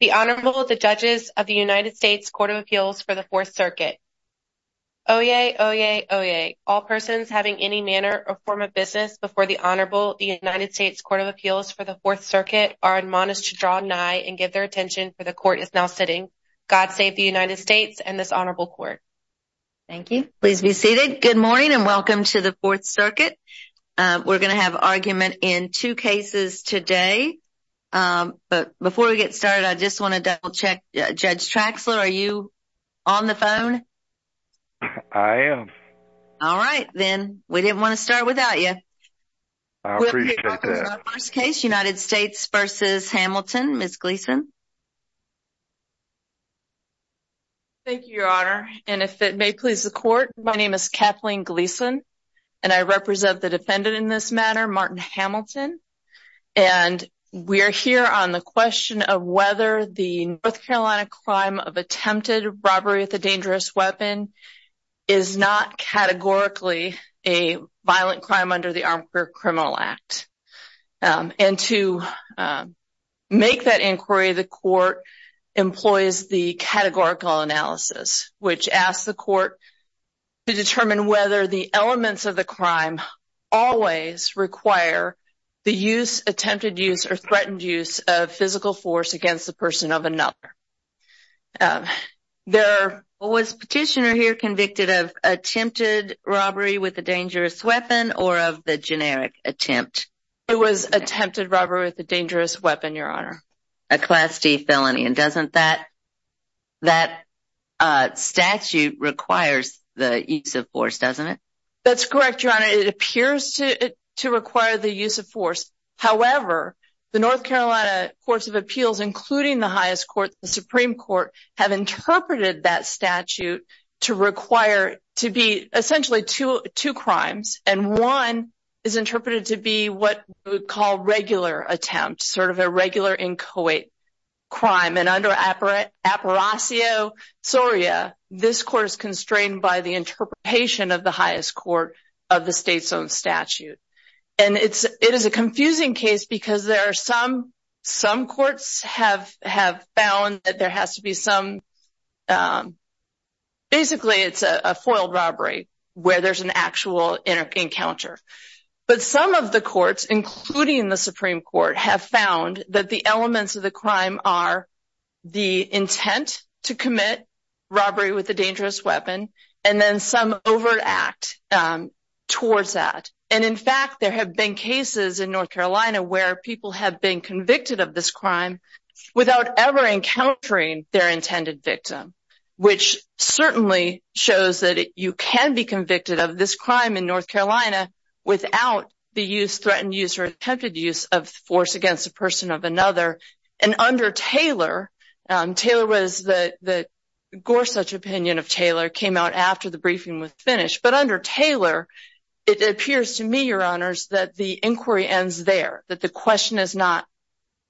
The Honorable, the Judges of the United States Court of Appeals for the Fourth Circuit. Oyez! Oyez! Oyez! All persons having any manner or form of business before the Honorable, the United States Court of Appeals for the Fourth Circuit, are admonished to draw nigh and give their attention, for the Court is now sitting. God save the United States and this Honorable Court. Thank you. Please be seated. Good morning and welcome to the Fourth Circuit. We're going to have argument in two cases today, but before we get started, I just want to double-check. Judge Traxler, are you on the phone? I am. All right. Then, we didn't want to start without you. I appreciate that. We'll be talking about our first case, United States v. Hamilton. Ms. Gleason. Thank you, Your Honor. If it may please the Court, my name is Kathleen Gleason, and I represent the defendant in this matter, Martin Hamilton. We are here on the question of whether the North Carolina crime of attempted robbery with a dangerous weapon is not categorically a violent crime under the Armed Career Criminal Act. To make that inquiry, the Court employs the categorical analysis, which asks the Court to determine whether the elements of the crime always require the use, attempted use, or threatened use of physical force against the person of another. Was Petitioner here convicted of attempted robbery with a dangerous weapon or of the It was attempted robbery with a dangerous weapon, Your Honor. A Class D felony. And doesn't that statute require the use of force, doesn't it? That's correct, Your Honor. It appears to require the use of force. However, the North Carolina Courts of Appeals, including the highest court, the Supreme Court, have interpreted that statute to require to be essentially two crimes. And one is interpreted to be what we would call regular attempt, sort of a regular incoate crime. And under Apparatio Soria, this court is constrained by the interpretation of the highest court of the state's own statute. And it is a confusing case because there are some, some courts have found that there has to be some, basically it's a foiled robbery where there's an actual encounter. But some of the courts, including the Supreme Court, have found that the elements of the crime are the intent to commit robbery with a dangerous weapon, and then some overact towards that. And in fact, there have been cases in North Carolina where people have been convicted of this crime without ever encountering their intended victim, which certainly shows that you can be convicted of this crime in North Carolina without the use, threatened use, or attempted use of force against a person of another. And under Taylor, Taylor was, the Gorsuch opinion of Taylor came out after the briefing was finished. But under Taylor, it appears to me, Your Honors, that the inquiry ends there, that the question is not,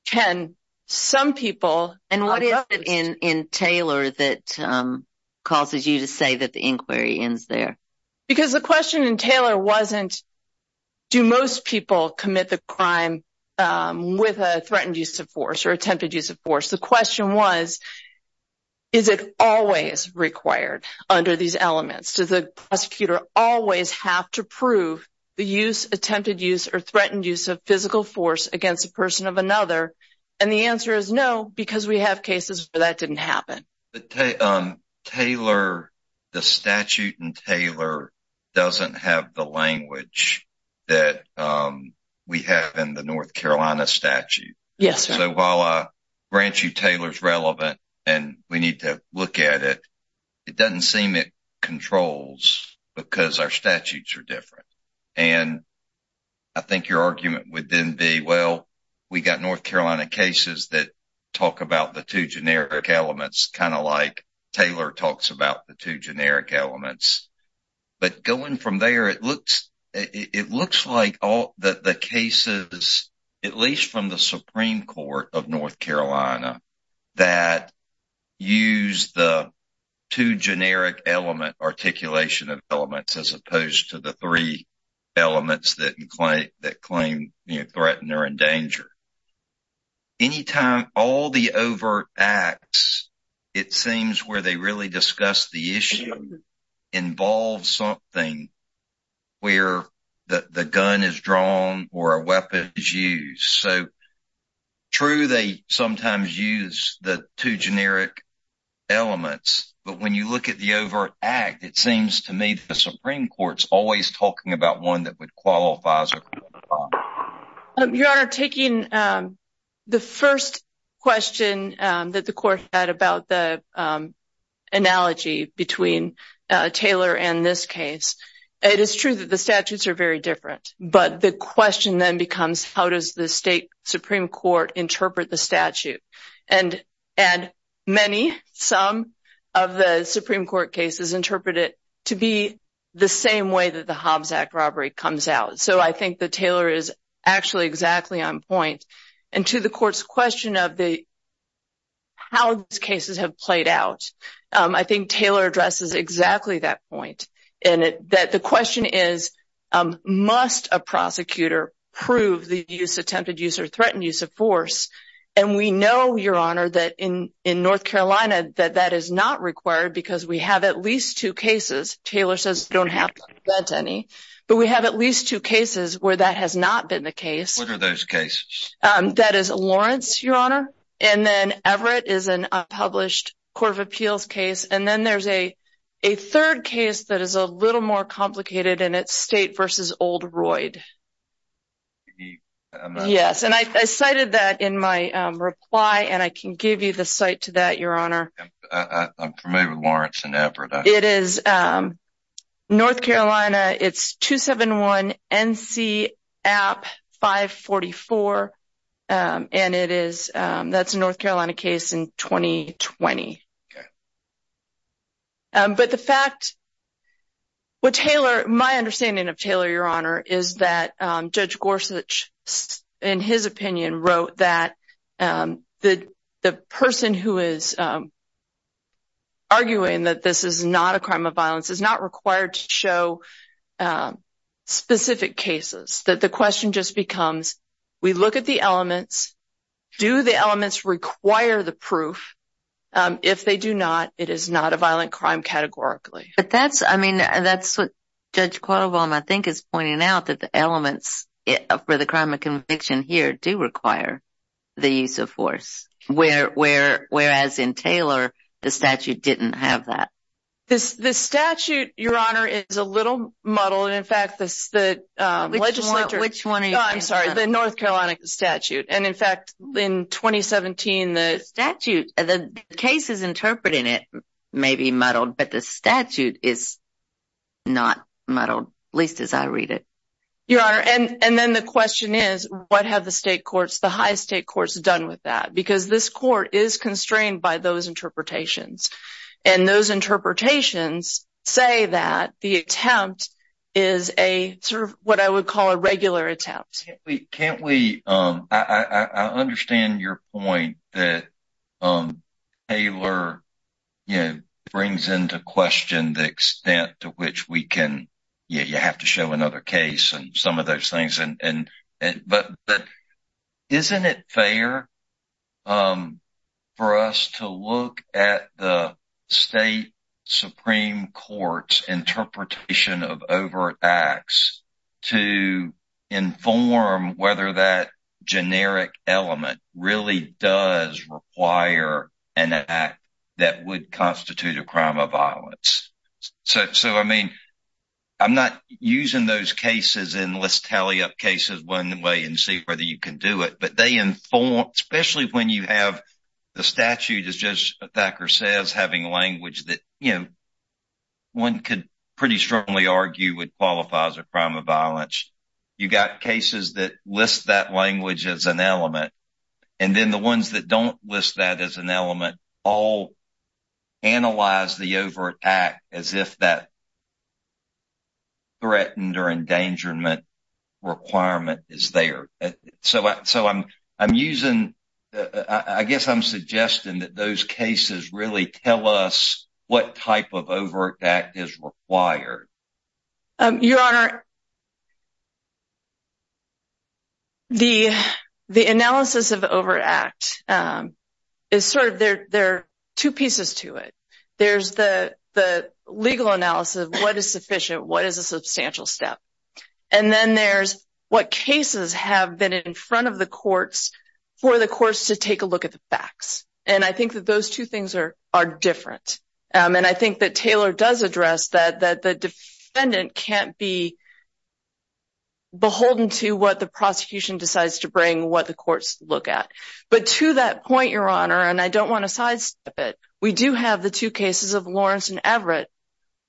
can some people… And what is it in Taylor that causes you to say that the inquiry ends there? Because the question in Taylor wasn't, do most people commit the crime with a threatened use of force or attempted use of force? The question was, is it always required under these elements? Does the prosecutor always have to prove the use, attempted use, or threatened use of physical force against a person of another? And the answer is no, because we have cases where that didn't happen. But Taylor, the statute in Taylor doesn't have the language that we have in the North Carolina statute. Yes, Your Honor. So while I grant you Taylor's relevant and we need to look at it, it doesn't seem it controls because our statutes are different. And I think your argument would then be, well, we got North Carolina cases that talk about the two generic elements, kind of like Taylor talks about the two generic elements. But going from there, it looks like all the cases, at least from the Supreme Court of North Carolina, that use the two generic element articulation of elements as opposed to the three elements that claim threatened or in danger. Anytime all the overt acts, it seems where they really discuss the issue involves something where the gun is drawn or a weapon is used. So true, they sometimes use the two generic elements, but when you look at the overt act, it seems to me the Supreme Court's always talking about one that would qualify as a criminal offense. Your Honor, taking the first question that the Court had about the analogy between Taylor and this case, it is true that the statutes are very different. But the question then becomes, how does the state Supreme Court interpret the statute? And many, some of the Supreme Court cases interpret it to be the same way that the Hobbs Act robbery comes out. So I think that Taylor is actually exactly on point. And to the Court's question of how these cases have played out, I think Taylor addresses exactly that point, in that the question is, must a prosecutor prove the attempted use or threatened use of force? And we know, Your Honor, that in North Carolina, that that is not required because we have at least two cases, Taylor says we don't have to present any, but we have at least two cases where that has not been the case. What are those cases? That is Lawrence, Your Honor, and then Everett is an unpublished Court of Appeals case. And then there's a third case that is a little more complicated, and it's State v. Old Royd. Yes, and I cited that in my reply, and I can give you the cite to that, Your Honor. I'm familiar with Lawrence and Everett. It is North Carolina, it's 271 N.C. App 544, and it is, that's a North Carolina case in 2020. Okay. But the fact, what Taylor, my understanding of Taylor, Your Honor, is that Judge Gorsuch, in his opinion, wrote that the person who is arguing that this is not a crime of violence is not required to show specific cases, that the question just becomes, we look at the elements, do the elements require the proof? If they do not, it is not a violent crime categorically. But that's, I mean, that's what Judge Quattlebaum, I think, is pointing out, that the elements for the crime of conviction here do require the use of force, whereas in Taylor, the statute didn't have that. The statute, Your Honor, is a little muddled. In fact, the legislature... Which one are you talking about? I'm sorry, the North Carolina statute. In fact, in 2017, the statute, the cases interpreting it may be muddled, but the statute is not muddled, at least as I read it. Your Honor, and then the question is, what have the state courts, the high state courts, done with that? Because this court is constrained by those interpretations, and those interpretations say that the attempt is a, sort of, what I would call a regular attempt. Can't we, I understand your point that Taylor, you know, brings into question the extent to which we can, yeah, you have to show another case and some of those things. But isn't it fair for us to look at the state supreme court's interpretation of overt acts to inform whether that generic element really does require an act that would constitute a crime of violence? So, I mean, I'm not using those cases in, let's tally up cases one way and see whether you can do it, but they inform, especially when you have the statute, as Judge Thacker says, having language that, you know, one could pretty strongly argue would qualify as a crime of violence. You've got cases that list that language as an element, and then the ones that don't list that as an element all analyze the overt act as if that threatened or endangerment requirement is there. So, I'm using, I guess I'm suggesting that those cases really tell us what type of overt act is required. Your Honor, the analysis of the overt act is sort of, there are two pieces to it. There's the legal analysis of what is sufficient, what is a substantial step. And then there's what cases have been in front of the courts for the courts to take a look at the facts. And I think that those two things are different. And I think that Taylor does address that the defendant can't be beholden to what the prosecution decides to bring, what the courts look at. But to that point, Your Honor, and I don't want to sidestep it, we do have the two cases of Lawrence and Everett,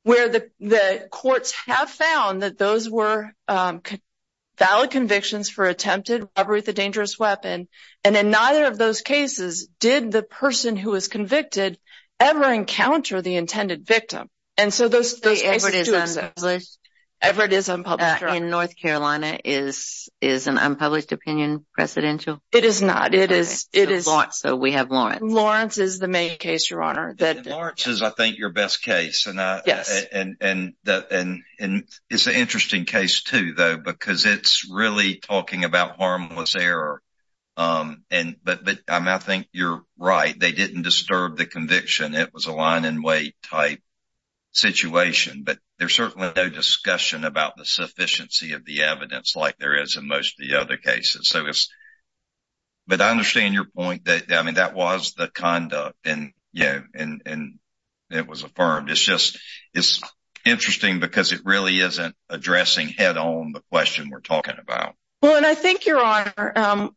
where the courts have found that those were valid convictions for attempted robbery of the dangerous weapon. And in neither of those cases did the person who was convicted ever encounter the intended victim. And so those cases do exist. Everett is unpublished. In North Carolina, is an unpublished opinion presidential? It is not. So we have Lawrence. Lawrence is the main case, Your Honor. Lawrence is, I think, your best case. And it's an interesting case too, though, because it's really talking about harmless error. But I think you're right, they didn't disturb the conviction. It was a line-and-wait type situation. But there's certainly no discussion about the sufficiency of the evidence like there is in most of the other cases. But I understand your point that that was the conduct and it was affirmed. It's interesting because it really isn't addressing head-on the question we're talking about. Well, and I think, Your Honor,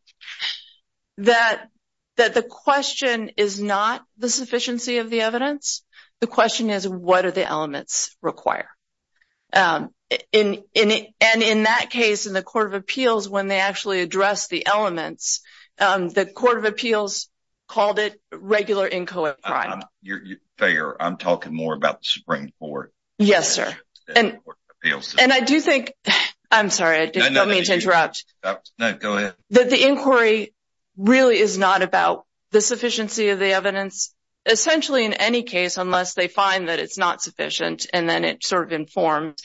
that the question is not the sufficiency of the evidence. The question is, what do the elements require? And in that case, in the Court of Appeals, when they actually addressed the elements, the Court of Appeals called it regular inchoate crime. You're fair. I'm talking more about the Supreme Court. Yes, sir. And I do think, I'm sorry, I didn't mean to interrupt. No, go ahead. That the inquiry really is not about the sufficiency of the evidence, essentially in any case, unless they find that it's not sufficient and then it's sort of informed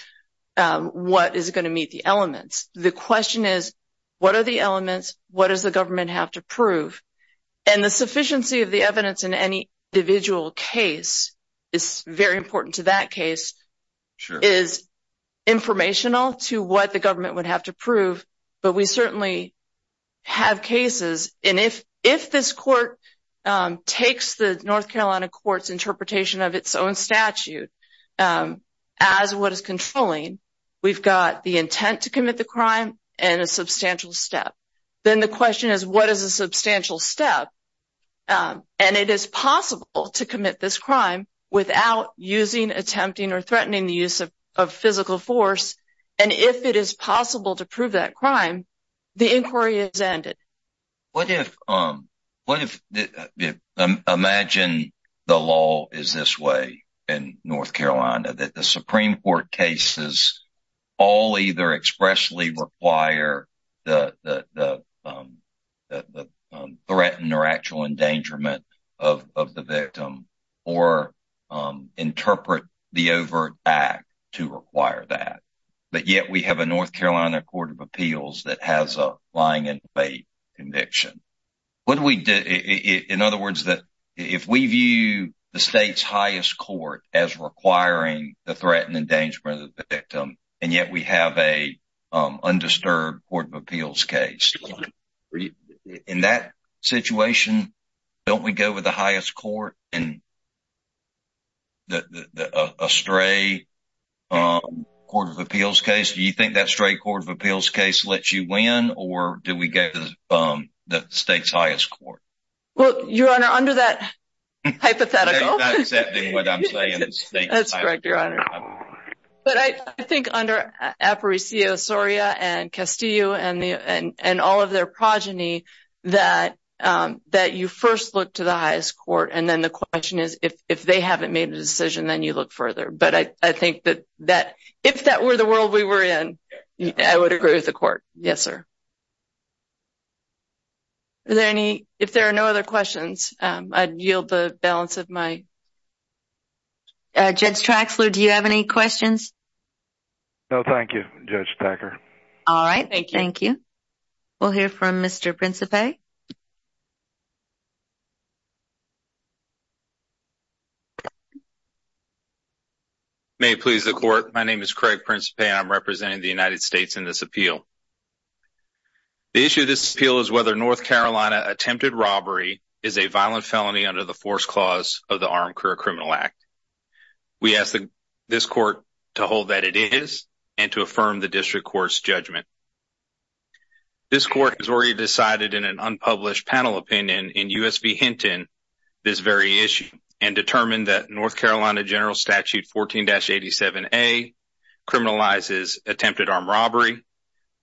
what is going to meet the elements. The question is, what are the elements? What does the government have to prove? And the sufficiency of the evidence in any individual case is very important to that have cases. And if this court takes the North Carolina court's interpretation of its own statute as what is controlling, we've got the intent to commit the crime and a substantial step. Then the question is, what is a substantial step? And it is possible to commit this crime without using, attempting, or threatening the use of physical force. And if it is possible to prove that crime, the inquiry is ended. What if, imagine the law is this way in North Carolina, that the Supreme Court cases all either expressly require the threatened or actual endangerment of the victim or interpret the overt act to require that. But yet we have a North Carolina court of appeals that has a lying in debate conviction. In other words, that if we view the state's highest court as requiring the threatened endangerment of the victim, and yet we have a undisturbed court of appeals case. In that situation, don't we go with the highest court in a stray court of appeals case? Do you think that stray court of appeals case lets you win, or do we go to the state's highest court? Well, your honor, under that hypothetical. That's correct, your honor. But I think under Aparicio, Soria, and Castillo, and all of their is if they haven't made a decision, then you look further. But I think that that if that were the world we were in, I would agree with the court. Yes, sir. If there are no other questions, I'd yield the balance of my. Judge Traxler, do you have any questions? No, thank you, Judge Packer. All right, thank you. We'll hear from Mr. Principe. You may please the court. My name is Craig Principe. I'm representing the United States in this appeal. The issue of this appeal is whether North Carolina attempted robbery is a violent felony under the force clause of the Armed Career Criminal Act. We ask this court to hold that it is and to affirm the district court's judgment. This court has already decided in an unpublished panel opinion in U.S. v. Hinton this very issue and determined that North Carolina General Statute 14-87A criminalizes attempted armed robbery,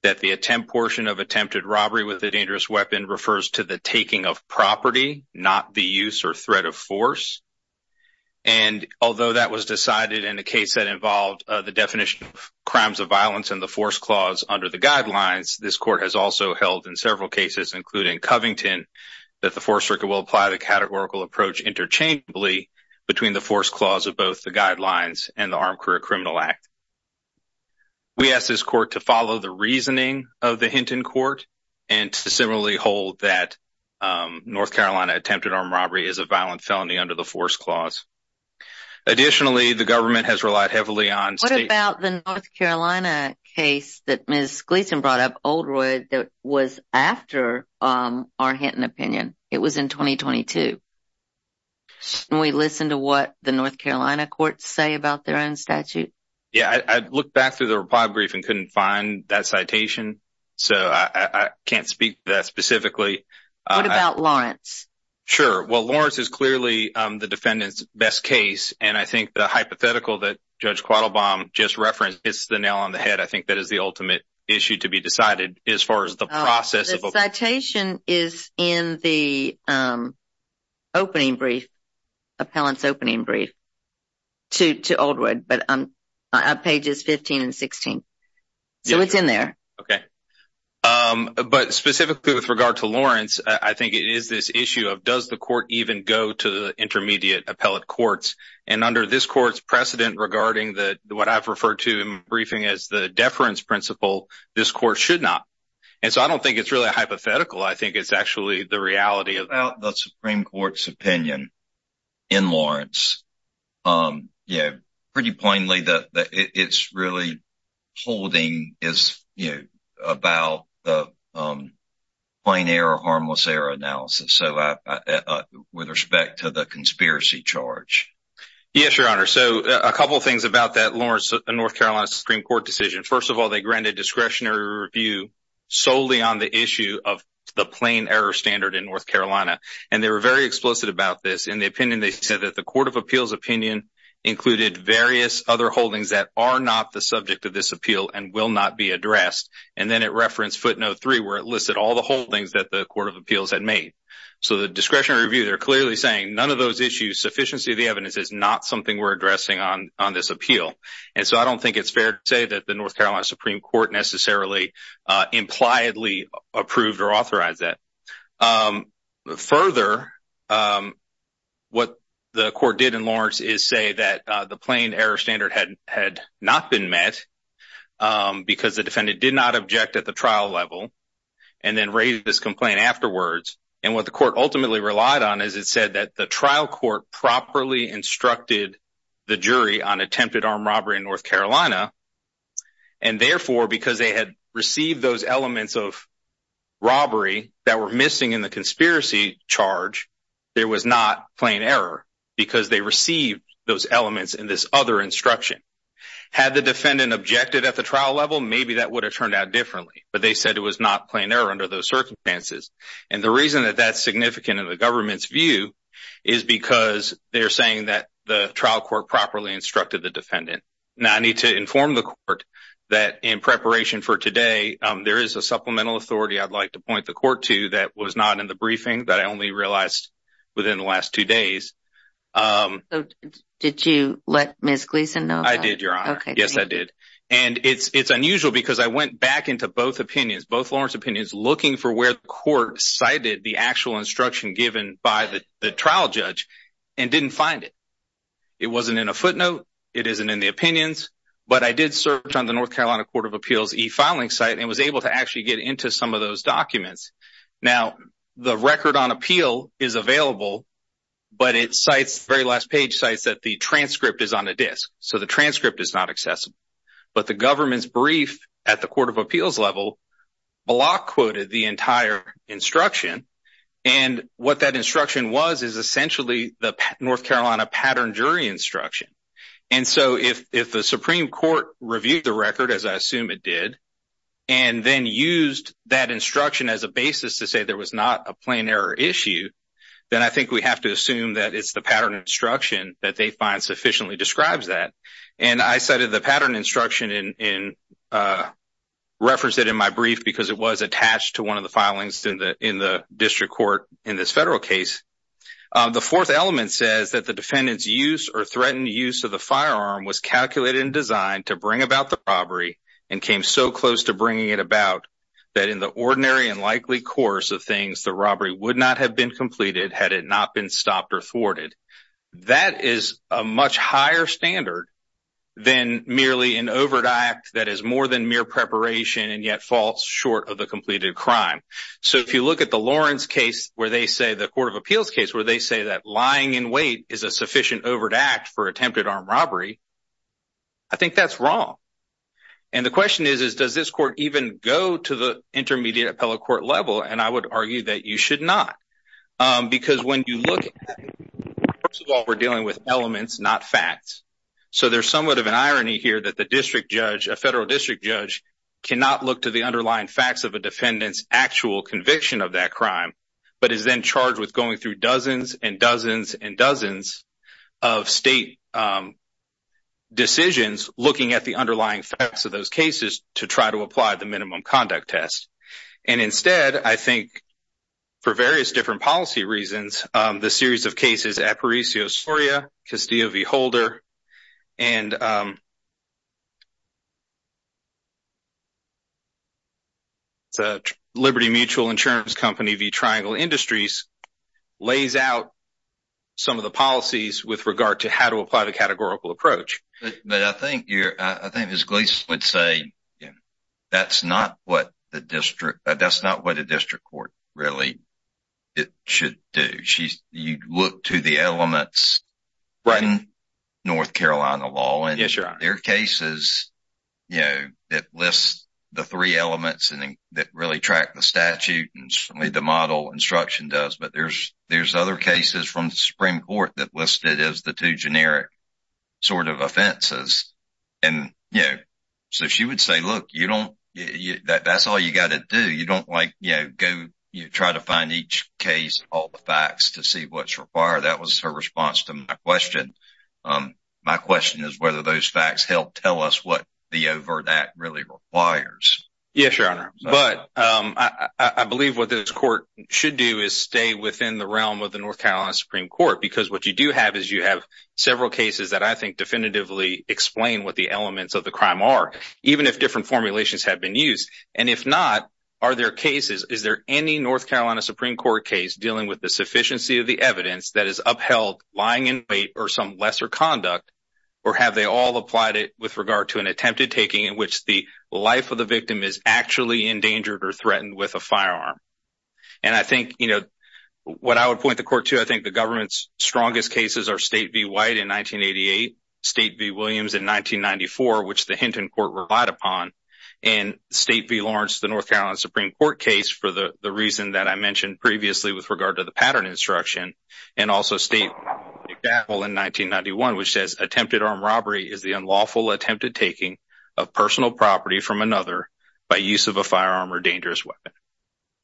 that the attempt portion of attempted robbery with a dangerous weapon refers to the taking of property, not the use or threat of force. And although that was decided in a case that involved the definition of crimes of violence and the force clause under the guidelines, this court has also held in several cases, including Covington, that the fourth circuit will apply the categorical approach interchangeably between the force clause of both the guidelines and the Armed Career Criminal Act. We ask this court to follow the reasoning of the Hinton court and to similarly hold that North Carolina attempted armed robbery is a violent felony under the force clause. Additionally, the government has relied heavily What about the North Carolina case that Ms. Gleason brought up, Oldroyd, that was after our Hinton opinion? It was in 2022. Can we listen to what the North Carolina courts say about their own statute? Yeah, I looked back through the reply brief and couldn't find that citation, so I can't speak to that specifically. What about Lawrence? Sure, well, Lawrence is clearly the defendant's best case, and I think the hypothetical that Judge Quattlebaum just referenced hits the nail on the head. I think that is the ultimate issue to be decided as far as the process. The citation is in the opening brief, appellant's opening brief, to Oldroyd, but on pages 15 and 16, so it's in there. Okay, but specifically with regard to Lawrence, I think it is this issue of does the court even go to the intermediate appellate courts, and under this court's precedent regarding what I've referred to in my briefing as the deference principle, this court should not, and so I don't think it's really a hypothetical. I think it's actually the reality of the Supreme Court's opinion in Lawrence. Yeah, pretty plainly that it's really holding about the plain error, harmless error analysis, with respect to the conspiracy charge. Yes, Your Honor, so a couple of things about that Lawrence and North Carolina Supreme Court decision. First of all, they granted discretionary review solely on the issue of the plain error standard in North Carolina, and they were very explicit about this. In the opinion, they said that the Court of Appeals opinion included various other holdings that are not the subject of this appeal and will not be addressed, and then it referenced footnote three, where it listed all the holdings that the Court of Appeals had made. So the discretionary review, they're clearly saying none of those issues, sufficiency of the evidence, is not something we're addressing on this appeal, and so I don't think it's fair to say that the North Carolina Supreme Court necessarily impliedly approved or had not been met because the defendant did not object at the trial level and then raised this complaint afterwards, and what the court ultimately relied on is it said that the trial court properly instructed the jury on attempted armed robbery in North Carolina, and therefore, because they had received those elements of robbery that were missing in the conspiracy charge, there was not plain error because they received those elements in this other instruction. Had the defendant objected at the trial level, maybe that would have turned out differently, but they said it was not plain error under those circumstances, and the reason that that's significant in the government's view is because they're saying that the trial court properly instructed the defendant. Now, I need to inform the court that in preparation for today, there is a I only realized within the last two days. Did you let Ms. Gleason know? I did, Your Honor. Yes, I did, and it's unusual because I went back into both opinions, both Lawrence opinions, looking for where the court cited the actual instruction given by the trial judge and didn't find it. It wasn't in a footnote. It isn't in the opinions, but I did search on the North Carolina Court of Appeals e-filing site and was able to actually get into some of those documents. Now, the record on appeal is available, but it cites, the very last page cites that the transcript is on a disk, so the transcript is not accessible, but the government's brief at the Court of Appeals level block quoted the entire instruction, and what that instruction was is essentially the North Carolina pattern jury instruction, and so if the Supreme Court reviewed the record, as I assume it did, and then used that instruction as a basis to say there was not a plain error issue, then I think we have to assume that it's the pattern instruction that they find sufficiently describes that, and I cited the pattern instruction and referenced it in my brief because it was attached to one of the filings in the district court in this federal case. The fourth element says that the defendant's use or threatened use of the firearm was calculated and designed to bring about the robbery and came so close to bringing it about that in the ordinary and likely course of things the robbery would not have been completed had it not been stopped or thwarted. That is a much higher standard than merely an overt act that is more than mere preparation and yet falls short of the completed crime, so if you look at the Lawrence case where they say, the Court of Appeals case, where they say that lying in wait is a sufficient overt act for I think that's wrong, and the question is, does this court even go to the intermediate appellate court level, and I would argue that you should not because when you look, first of all, we're dealing with elements, not facts, so there's somewhat of an irony here that the district judge, a federal district judge, cannot look to the underlying facts of a defendant's actual conviction of that crime but is then charged with going through dozens and dozens and dozens of state decisions looking at the underlying facts of those cases to try to apply the minimum conduct test, and instead, I think for various different policy reasons, the series of cases Aparicio-Soria, Castillo v. Holder, and the Liberty Mutual Insurance Company v. Triangle Industries lays out some of the policies with regard to how to apply the categorical approach. But I think you're, I think as Gleason would say, that's not what the district, that's not what a district court really should do. You look to the elements in North Carolina law, and there are cases, you know, that list the three elements that really track the statute, the model instruction does, but there's other cases from the Supreme Court that listed as the two generic sort of offenses. And, you know, so she would say, look, you don't, that's all you got to do. You don't like, you know, go, you try to find each case, all the facts to see what's required. That was her response to my question. My question is whether those facts help tell us the over that really requires. Yes, Your Honor. But I believe what this court should do is stay within the realm of the North Carolina Supreme Court, because what you do have is you have several cases that I think definitively explain what the elements of the crime are, even if different formulations have been used. And if not, are there cases, is there any North Carolina Supreme Court case dealing with the sufficiency of the evidence that is upheld lying in wait or some lesser conduct? Or have they all applied it with regard to an attempted taking in which the life of the victim is actually endangered or threatened with a firearm? And I think, you know, what I would point the court to, I think the government's strongest cases are State v. White in 1988, State v. Williams in 1994, which the Hinton Court relied upon, and State v. Lawrence, the North Carolina Supreme Court case for the reason that I mentioned previously with regard to the pattern instruction, and also State v. McDowell in 1991, which says, attempted armed robbery is the unlawful attempted taking of personal property from another by use of a firearm or dangerous weapon.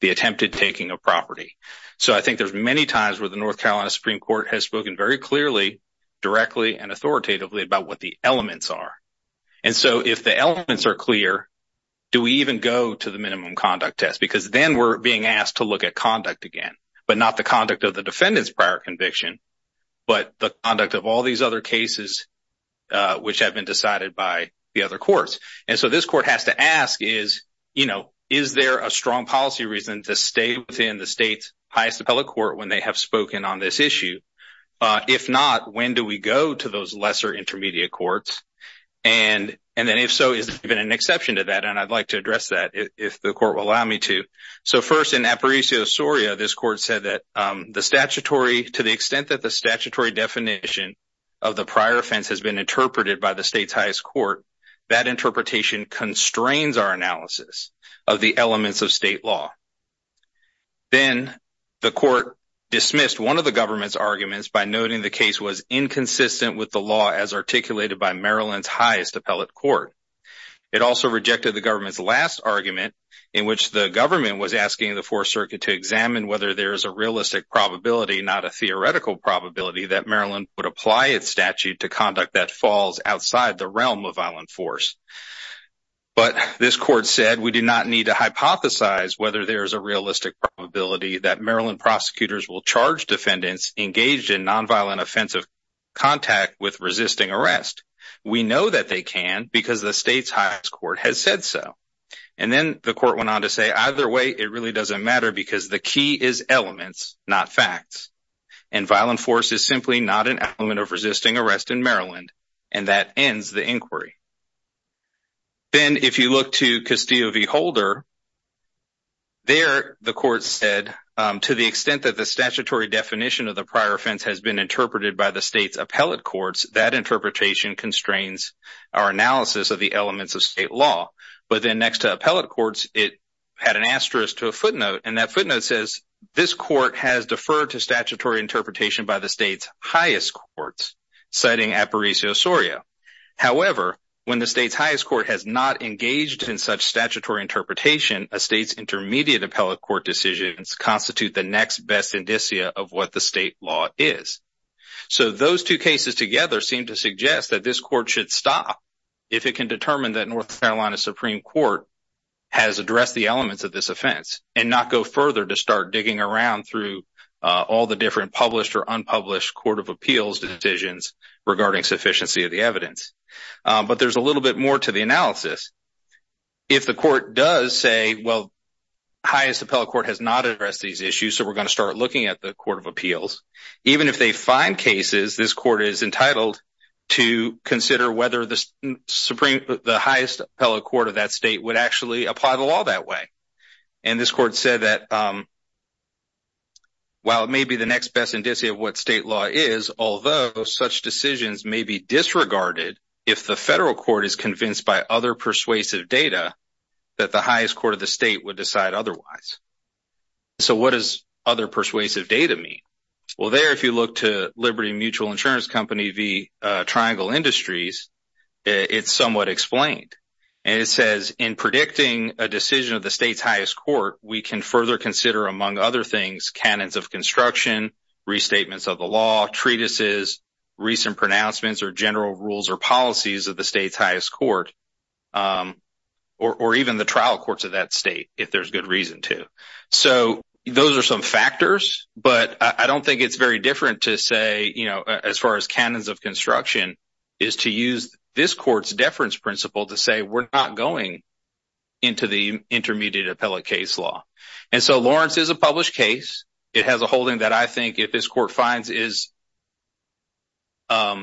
The attempted taking of property. So I think there's many times where the North Carolina Supreme Court has spoken very clearly, directly and authoritatively about what the elements are. And so if the elements are clear, do we even go to the minimum conduct test? Because then we're being asked to look at conduct again, but not the conduct of the defendant's prior conviction, but the conduct of all these other cases, which have been decided by the other courts. And so this court has to ask is, you know, is there a strong policy reason to stay within the state's highest appellate court when they have spoken on this issue? If not, when do we go to those lesser intermediate courts? And then if so, is there even an exception to that? And I'd like to address that if the court will allow me to. So first in Aparicio Soria, this court said that the statutory, to the extent that the statutory definition of the prior offense has been interpreted by the state's highest court, that interpretation constrains our analysis of the elements of state law. Then the court dismissed one of the government's arguments by noting the case was inconsistent with the law as articulated by Maryland's highest appellate court. It also rejected the government's last argument in which the government was asking the fourth circuit to examine whether there is a realistic probability, not a theoretical probability, that Maryland would apply its statute to conduct that falls outside the realm of violent force. But this court said we do not need to hypothesize whether there is a realistic probability that Maryland prosecutors will charge defendants engaged in non-violent offensive contact with the state's highest court has said so. And then the court went on to say either way, it really doesn't matter because the key is elements, not facts. And violent force is simply not an element of resisting arrest in Maryland. And that ends the inquiry. Then if you look to Castillo v. Holder, there the court said to the extent that the statutory definition of the prior offense has been interpreted by the state's appellate courts, that interpretation constrains our analysis of the elements of state law. But then next to appellate courts, it had an asterisk to a footnote. And that footnote says this court has deferred to statutory interpretation by the state's highest courts, citing Apparicio-Soria. However, when the state's highest court has not engaged in such statutory interpretation, a state's intermediate appellate court decisions constitute the next best indicia of what the state law is. So those two cases together seem to suggest that this court should stop if it can determine that North Carolina Supreme Court has addressed the elements of this offense and not go further to start digging around through all the different published or unpublished court of appeals decisions regarding sufficiency of the evidence. But there's a little bit more to the analysis. If the court does say, well, highest appellate court has not addressed these issues, so we're going to start looking at the court of appeals. Even if they find cases, this court is entitled to consider whether the highest appellate court of that state would actually apply the law that way. And this court said that while it may be the next best indicia of what state law is, although such decisions may be disregarded if the federal court is convinced by other persuasive data that the highest court of the state would decide otherwise. So what does other persuasive data mean? Well, there, if you look to Liberty Mutual Insurance Company v. Triangle Industries, it's somewhat explained. And it says in predicting a decision of the state's highest court, we can further consider, among other things, canons of construction, restatements of the law, treatises, recent pronouncements or general rules or policies of the state's highest court, or even the trial courts of that state, if there's good reason to. So those are some factors, but I don't think it's very different to say, you know, as far as canons of construction is to use this court's deference principle to say we're not going into the intermediate appellate case law. And so Lawrence is a published case. It has a holding that I think if this court finds is that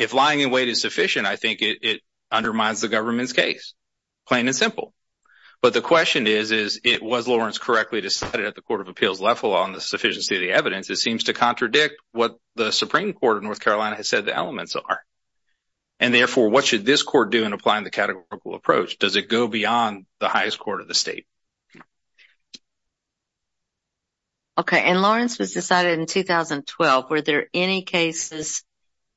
if lying in wait is sufficient, I think it undermines the government's case, plain and simple. But the question is, is it was Lawrence correctly decided at the court of appeals level on the sufficiency of the evidence? It seems to contradict what the Supreme Court of North Carolina has said the elements are. And therefore, what should this court do in applying the categorical approach? Does it go beyond the highest court of the state? Okay. And Lawrence was decided in 2012. Were there any cases,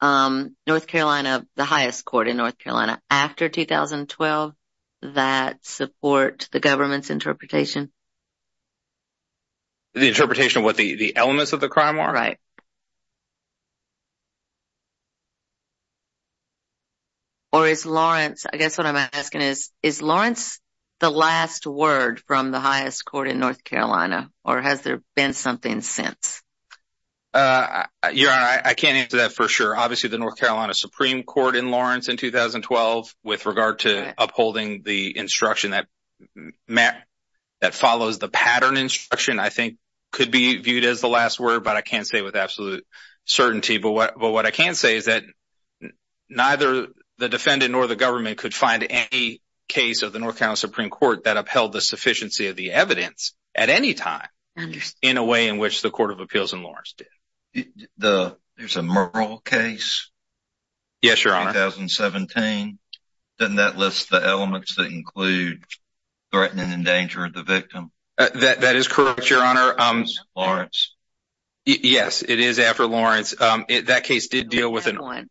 North Carolina, the highest court in North Carolina after 2012 that support the government's interpretation? The interpretation of what the elements of the crime are? Right. Or is Lawrence, I guess what I'm asking is, is Lawrence the last word from the highest court in North Carolina? Or has there been something since? Yeah, I can't answer that for sure. Obviously, the North Carolina Supreme Court in Lawrence in 2012 with regard to upholding the instruction that follows the pattern instruction, I think, could be viewed as the last word, but I can't say with absolute certainty. But what I can say is that neither the defendant nor the government could find any case of the North Carolina Supreme Court that upheld the sufficiency of the evidence at any time in a way in which the Court of Appeals in Lawrence did. There's a Murrell case in 2017. Doesn't that list the elements that include threatening and endangering the victim? That is correct, Your Honor. Yes, it is after Lawrence. That case did deal with an armed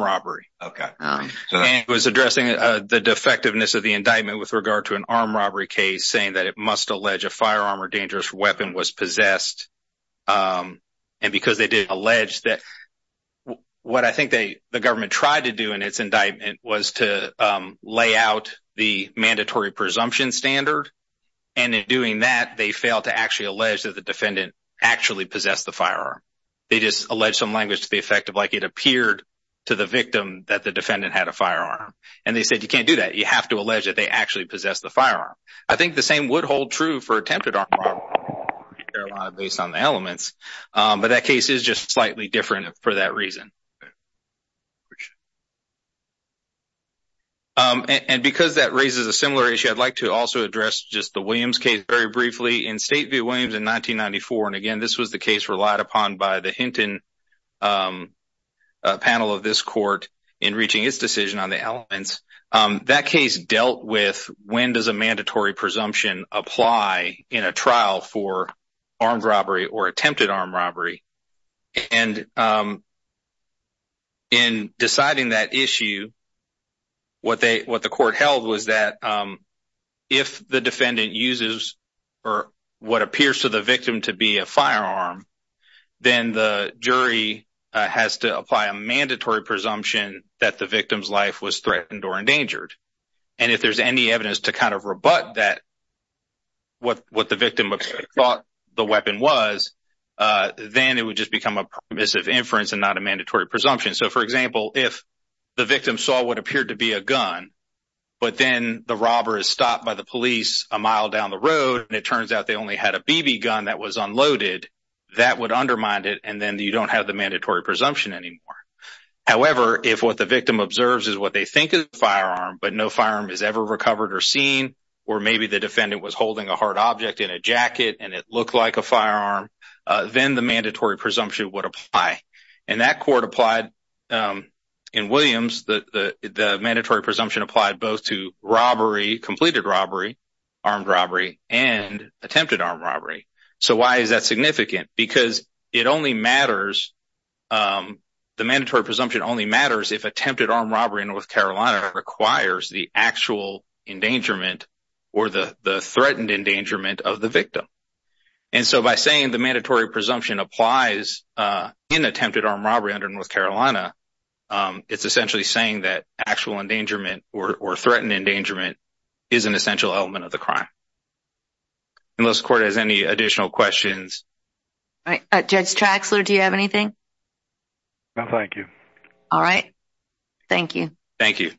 robbery. And it was addressing the defectiveness of the indictment with regard to an armed robbery case, saying that it must allege a firearm or dangerous weapon was possessed. And because they did allege that, what I think the government tried to do in its indictment was to lay out the mandatory presumption standard. And in doing that, they failed to actually allege that the defendant actually possessed the firearm. They just alleged some language to the effect of like it appeared to the victim that the defendant had a firearm. And they said, you can't do that. You have to allege that they actually possess the firearm. I think the same would hold true for attempted armed robbery in North Carolina based on the elements. But that case is just slightly different for that reason. And because that raises a similar issue, I'd like to also address just the Williams case very briefly. In State v. Williams in 1994, and again, this was the case relied upon by the Hinton panel of this court in reaching its decision on the elements, that case dealt with when does a mandatory presumption apply in a trial for armed robbery or attempted armed robbery. And in deciding that issue, what the court held was that if the defendant uses what appears to the victim to be a firearm, then the jury has to apply a mandatory presumption that the victim's life was threatened or endangered. And if there's any evidence to kind of rebut that, what the victim thought the weapon was, then it would just become a permissive inference and not a mandatory presumption. So for example, if the victim saw what appeared to be a gun, but then the robber is stopped by the police a mile down the road, and it turns out they only had a BB gun that was unloaded, that would undermine it, and then you don't have the mandatory presumption anymore. However, if what the victim observes is what they think is a firearm, but no firearm is ever recovered or seen, or maybe the defendant was holding a hard object in a jacket and it looked like a firearm, then the mandatory presumption would apply. And that court applied in Williams, the mandatory presumption applied both to robbery, completed robbery, armed robbery, and attempted armed robbery. So why is that significant? Because it only matters, the mandatory presumption only matters if attempted armed robbery in North Carolina requires the actual endangerment or the threatened endangerment of the victim. And so by saying the mandatory presumption applies in attempted armed robbery under North Carolina, it's essentially saying that actual endangerment or threatened endangerment is an essential element of the crime. Unless the court has any additional questions. All right. Judge Traxler, do you have anything? No, thank you. All right. Thank you. Thank you.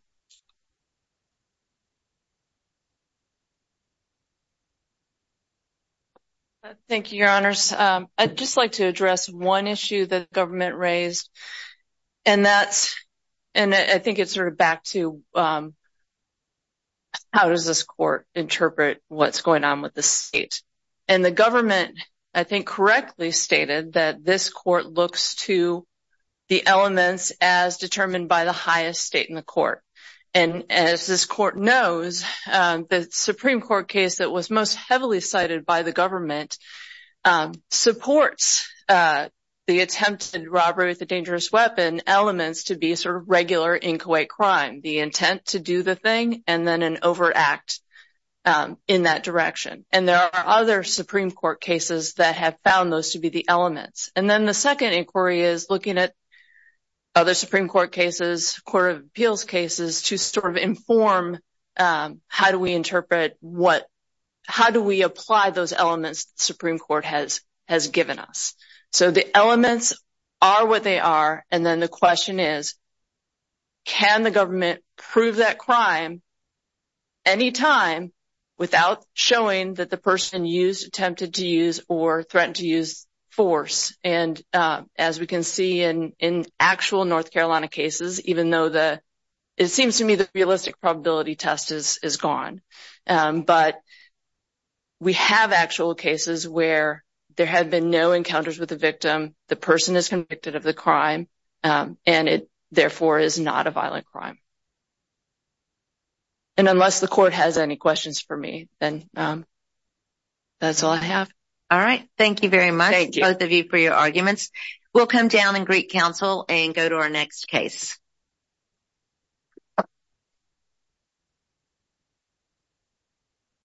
Thank you, your honors. I'd just like to address one issue that the government raised, and that's, and I think it's sort of back to, how does this court interpret what's going on with the state? And the government, I think, correctly stated that this court looks to the elements as determined by the highest state in the court. And as this court knows, the Supreme Court case that was most heavily cited by the elements to be sort of regular in Kuwait crime, the intent to do the thing and then an overact in that direction. And there are other Supreme Court cases that have found those to be the elements. And then the second inquiry is looking at other Supreme Court cases, Court of Appeals cases to sort of inform how do we interpret what, how do we apply those elements Supreme Court has given us? So the elements are what they are. And then the question is, can the government prove that crime any time without showing that the person used, attempted to use or threatened to use force? And as we can see in actual North Carolina cases, even though it seems to me the realistic probability test is gone, but we have actual cases where there have been no encounters with the victim. The person is convicted of the crime and it therefore is not a violent crime. And unless the court has any questions for me, then that's all I have. All right. Thank you very much, both of you, for your arguments. We'll come down Greek Council and go to our next case.